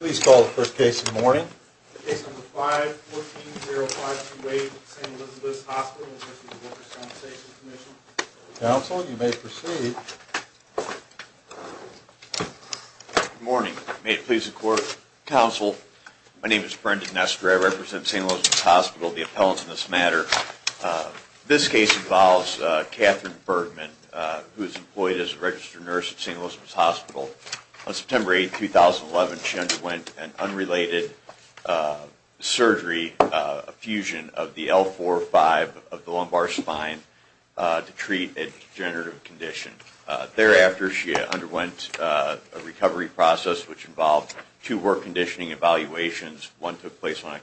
Please call the first case in the morning. The case number 5-14-0528, St. Elizabeth's Hospital v. Workers' Compensation Comm'n. Counsel, you may proceed. Good morning. May it please the Court, Counsel, my name is Brendan Nestor. I represent St. Elizabeth's Hospital, the appellants in this matter. This case involves Catherine Bergman, who is employed as a registered nurse at St. Elizabeth's Hospital. On September 8, 2011, she underwent an unrelated surgery, a fusion of the L4-5 of the lumbar spine to treat a degenerative condition. Thereafter, she underwent a recovery process which involved two work conditioning evaluations. One took place on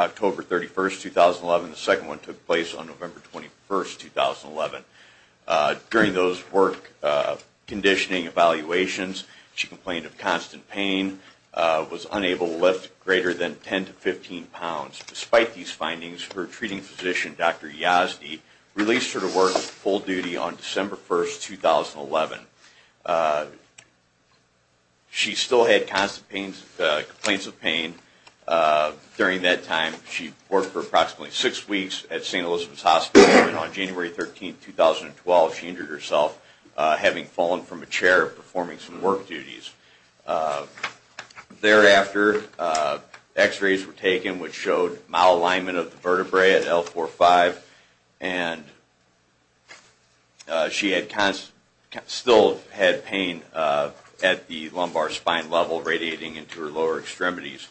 October 31, 2011. The second one took place on November 21, 2011. During those work conditioning evaluations, she complained of constant pain, was unable to lift greater than 10 to 15 pounds. Despite these findings, her treating physician, Dr. Yazdi, released her to work full duty on December 1, 2011. She still had constant complaints of pain. During that time, she worked for approximately six weeks at St. Elizabeth's Hospital. On January 13, 2012, she injured herself, having fallen from a chair and performing some work duties. Thereafter, x-rays were taken which showed malalignment of the vertebrae at L4-5. And she still had pain at the lumbar spine level radiating into her lower extremities.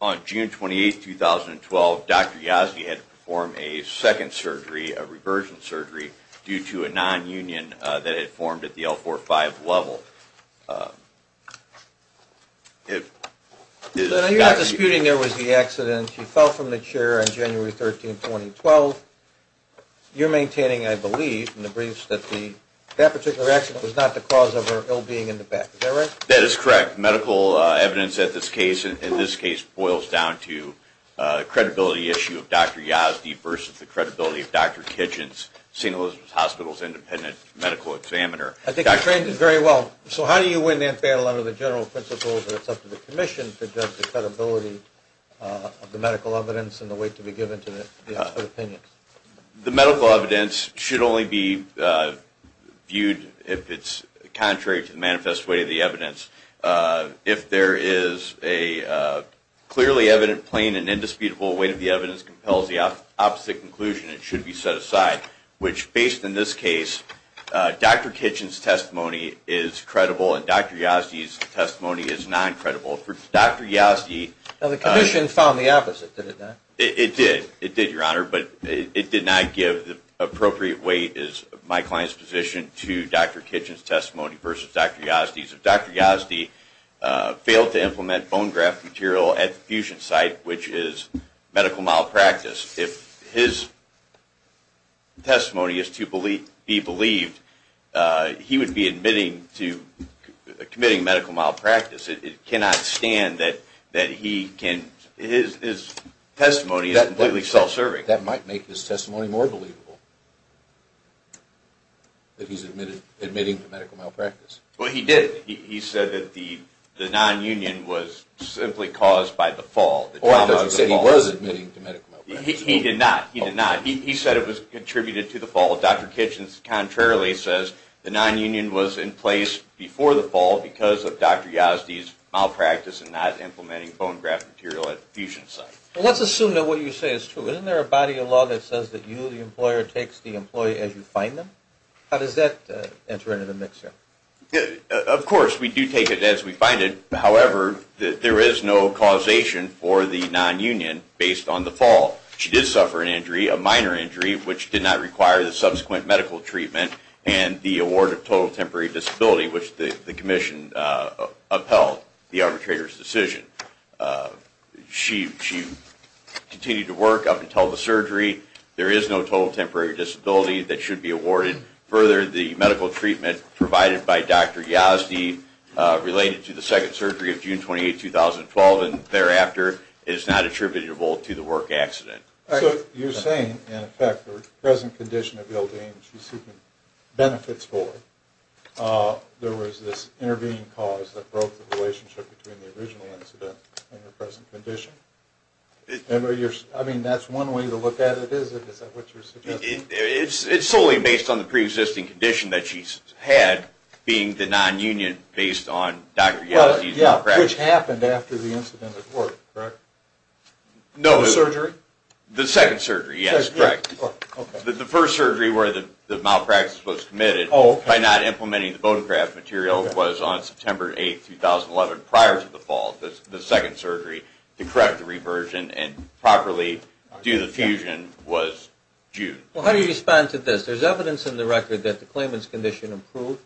On June 28, 2012, Dr. Yazdi had to perform a second surgery, a reversion surgery, due to a nonunion that had formed at the L4-5 level. So you're not disputing there was the accident. She fell from the chair on January 13, 2012. You're maintaining, I believe, in the briefs that that particular accident was not the cause of her ill-being in the back. Is that right? That is correct. Medical evidence in this case boils down to the credibility issue of Dr. Yazdi versus the credibility of Dr. Kitchens, St. Elizabeth's Hospital's independent medical examiner. I think you've phrased it very well. So how do you win that battle under the general principle that it's up to the commission to judge the credibility of the medical evidence and the weight to be given to the expert opinion? The medical evidence should only be viewed if it's contrary to the manifest weight of the evidence. If there is a clearly evident, plain, and indisputable weight of the evidence compels the opposite conclusion, it should be set aside. Which, based on this case, Dr. Kitchens' testimony is credible and Dr. Yazdi's testimony is non-credible. The commission found the opposite, did it not? It did, Your Honor, but it did not give the appropriate weight as my client's position to Dr. Kitchens' testimony versus Dr. Yazdi's. If Dr. Yazdi failed to implement bone graft material at the fusion site, which is medical malpractice, if his testimony is to be believed, he would be committing medical malpractice. It cannot stand that his testimony is completely self-serving. That might make his testimony more believable, that he's admitting to medical malpractice. Well, he did. He said that the nonunion was simply caused by the fall. He did not. He did not. He said it was contributed to the fall. Dr. Kitchens, contrarily, says the nonunion was in place before the fall because of Dr. Yazdi's malpractice and not implementing bone graft material at the fusion site. Let's assume that what you say is true. Isn't there a body of law that says that you, the employer, takes the employee as you find them? How does that enter into the mixture? Of course, we do take it as we find it. However, there is no causation for the nonunion based on the fall. She did suffer an injury, a minor injury, which did not require the subsequent medical treatment and the award of total temporary disability, which the commission upheld the arbitrator's decision. She continued to work up until the surgery. There is no total temporary disability that should be awarded. Further, the medical treatment provided by Dr. Yazdi related to the second surgery of June 28, 2012, and thereafter, is not attributable to the work accident. So you're saying, in effect, the present condition of Ildane she's seeking benefits for, there was this intervening cause that broke the relationship between the original incident and her present condition? I mean, that's one way to look at it, is it? Is that what you're suggesting? It's solely based on the pre-existing condition that she's had being the nonunion based on Dr. Yazdi's malpractice. Which happened after the incident at work, correct? No. The surgery? The second surgery, yes, correct. The first surgery where the malpractice was committed, by not implementing the bone graft material, was on September 8, 2011, prior to the fall. The second surgery to correct the reversion and properly do the fusion was June. Well, how do you respond to this? There's evidence in the record that the claimant's condition improved.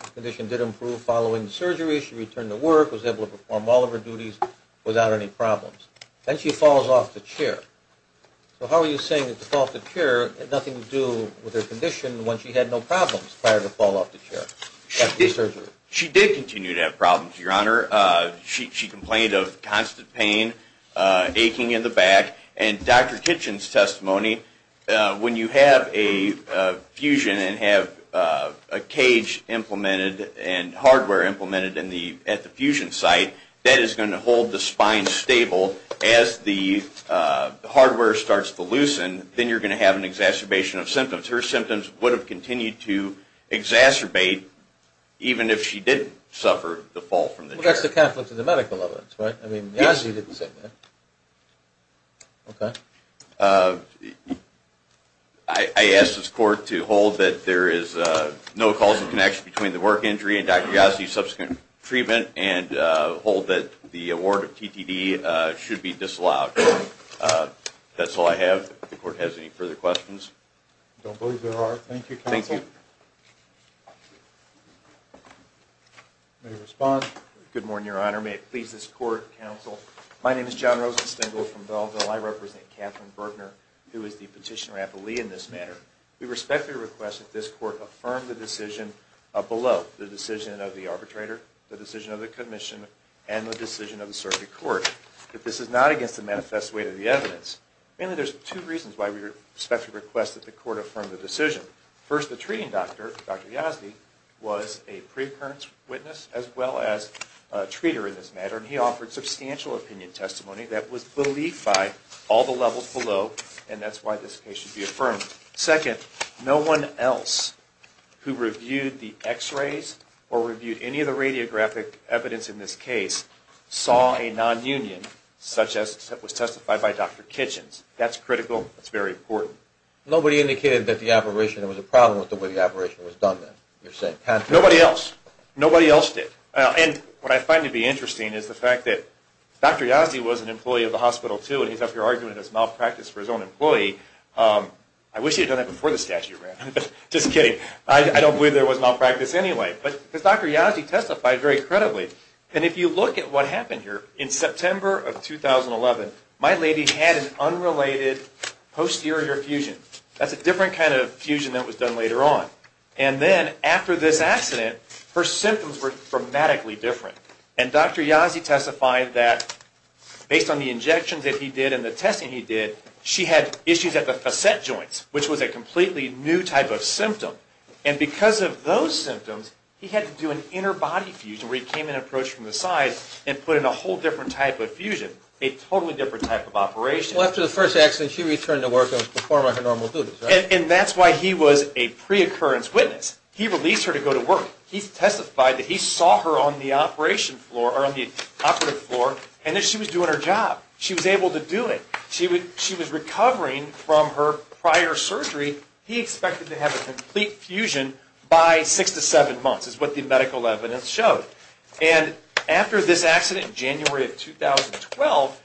The condition did improve following the surgery. She returned to work, was able to perform all of her duties without any problems. Then she falls off the chair. So how are you saying that the fall off the chair had nothing to do with her condition when she had no problems prior to the fall off the chair? She did continue to have problems, Your Honor. She complained of constant pain, aching in the back. And Dr. Kitchen's testimony, when you have a fusion and have a cage implemented and hardware implemented at the fusion site, that is going to hold the spine stable. As the hardware starts to loosen, then you're going to have an exacerbation of symptoms. Her symptoms would have continued to exacerbate even if she didn't suffer the fall from the chair. Well, that's the conflict of the medical evidence, right? Yes. I mean, Yazzie didn't say that. Okay. I ask this Court to hold that there is no causal connection between the work injury and Dr. Yazzie's subsequent treatment and hold that the award of TTD should be disallowed. That's all I have. If the Court has any further questions. I don't believe there are. Thank you, Counsel. Thank you. May I respond? Good morning, Your Honor. May it please this Court, Counsel. My name is John Rosenstengel from Belleville. I represent Catherine Bergner, who is the petitioner-appellee in this matter. We respectfully request that this Court affirm the decision below, the decision of the arbitrator, the decision of the commission, and the decision of the circuit court, that this is not against the manifest weight of the evidence. Mainly, there's two reasons why we respectfully request that the Court affirm the decision. First, the treating doctor, Dr. Yazzie, was a pre-occurrence witness as well as a treater in this matter, and he offered substantial opinion testimony that was believed by all the levels below, and that's why this case should be affirmed. Second, no one else who reviewed the x-rays or reviewed any of the radiographic evidence in this case saw a nonunion such as was testified by Dr. Kitchens. That's critical. That's very important. Nobody indicated that the operation was a problem with the way the operation was done, then? Nobody else. Nobody else did. And what I find to be interesting is the fact that Dr. Yazzie was an employee of the hospital, too, and he's up here arguing it was malpractice for his own employee. I wish he had done that before the statute ran. Just kidding. I don't believe there was malpractice anyway. But Dr. Yazzie testified very credibly, and if you look at what happened here, in September of 2011, my lady had an unrelated posterior fusion. That's a different kind of fusion that was done later on. And then, after this accident, her symptoms were dramatically different, and Dr. Yazzie testified that, based on the injections that he did and the testing he did, she had issues at the facet joints, which was a completely new type of symptom. And because of those symptoms, he had to do an inner body fusion where he came in and approached from the side and put in a whole different type of fusion, a totally different type of operation. Well, after the first accident, she returned to work and was performing her normal duties, right? And that's why he was a pre-occurrence witness. He released her to go to work. He testified that he saw her on the operation floor, or on the operative floor, and that she was doing her job. She was able to do it. She was recovering from her prior surgery. He expected to have a complete fusion by 6 to 7 months, is what the medical evidence showed. And after this accident in January of 2012,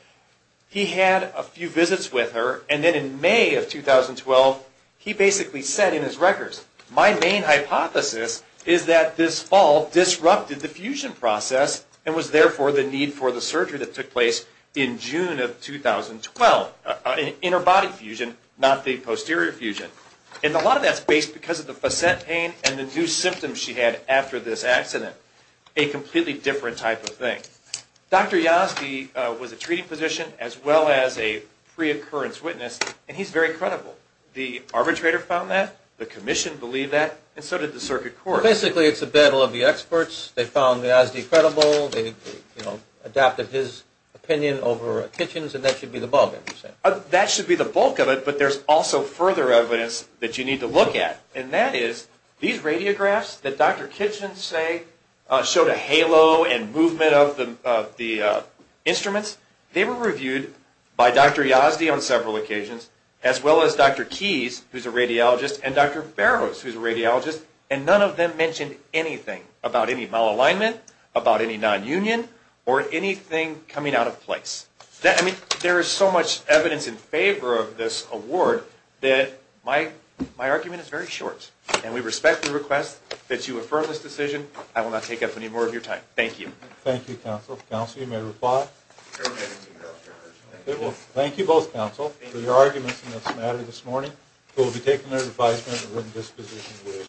he had a few visits with her, and then in May of 2012, he basically said in his records, my main hypothesis is that this fall disrupted the fusion process and was therefore the need for the surgery that took place in June of 2012, an inner body fusion, not the posterior fusion. And a lot of that's based because of the facet pain and the new symptoms she had after this accident, a completely different type of thing. Dr. Yosky was a treating physician as well as a pre-occurrence witness, and he's very credible. The arbitrator found that, the commission believed that, and so did the circuit court. Basically, it's a battle of the experts. They found Yosky credible. They adopted his opinion over Kitchen's, and that should be the bulk of it. That should be the bulk of it, but there's also further evidence that you need to look at, and that is these radiographs that Dr. Kitchen showed a halo and movement of the instruments, they were reviewed by Dr. Yazdi on several occasions, as well as Dr. Keys, who's a radiologist, and Dr. Barrows, who's a radiologist, and none of them mentioned anything about any malalignment, about any nonunion, or anything coming out of place. There is so much evidence in favor of this award that my argument is very short, and we respect the request that you affirm this decision. I will not take up any more of your time. Thank you. Thank you, counsel. Counsel, you may reply. Thank you both, counsel, for your arguments in this matter this morning. We will be taking their advisement at written disposition.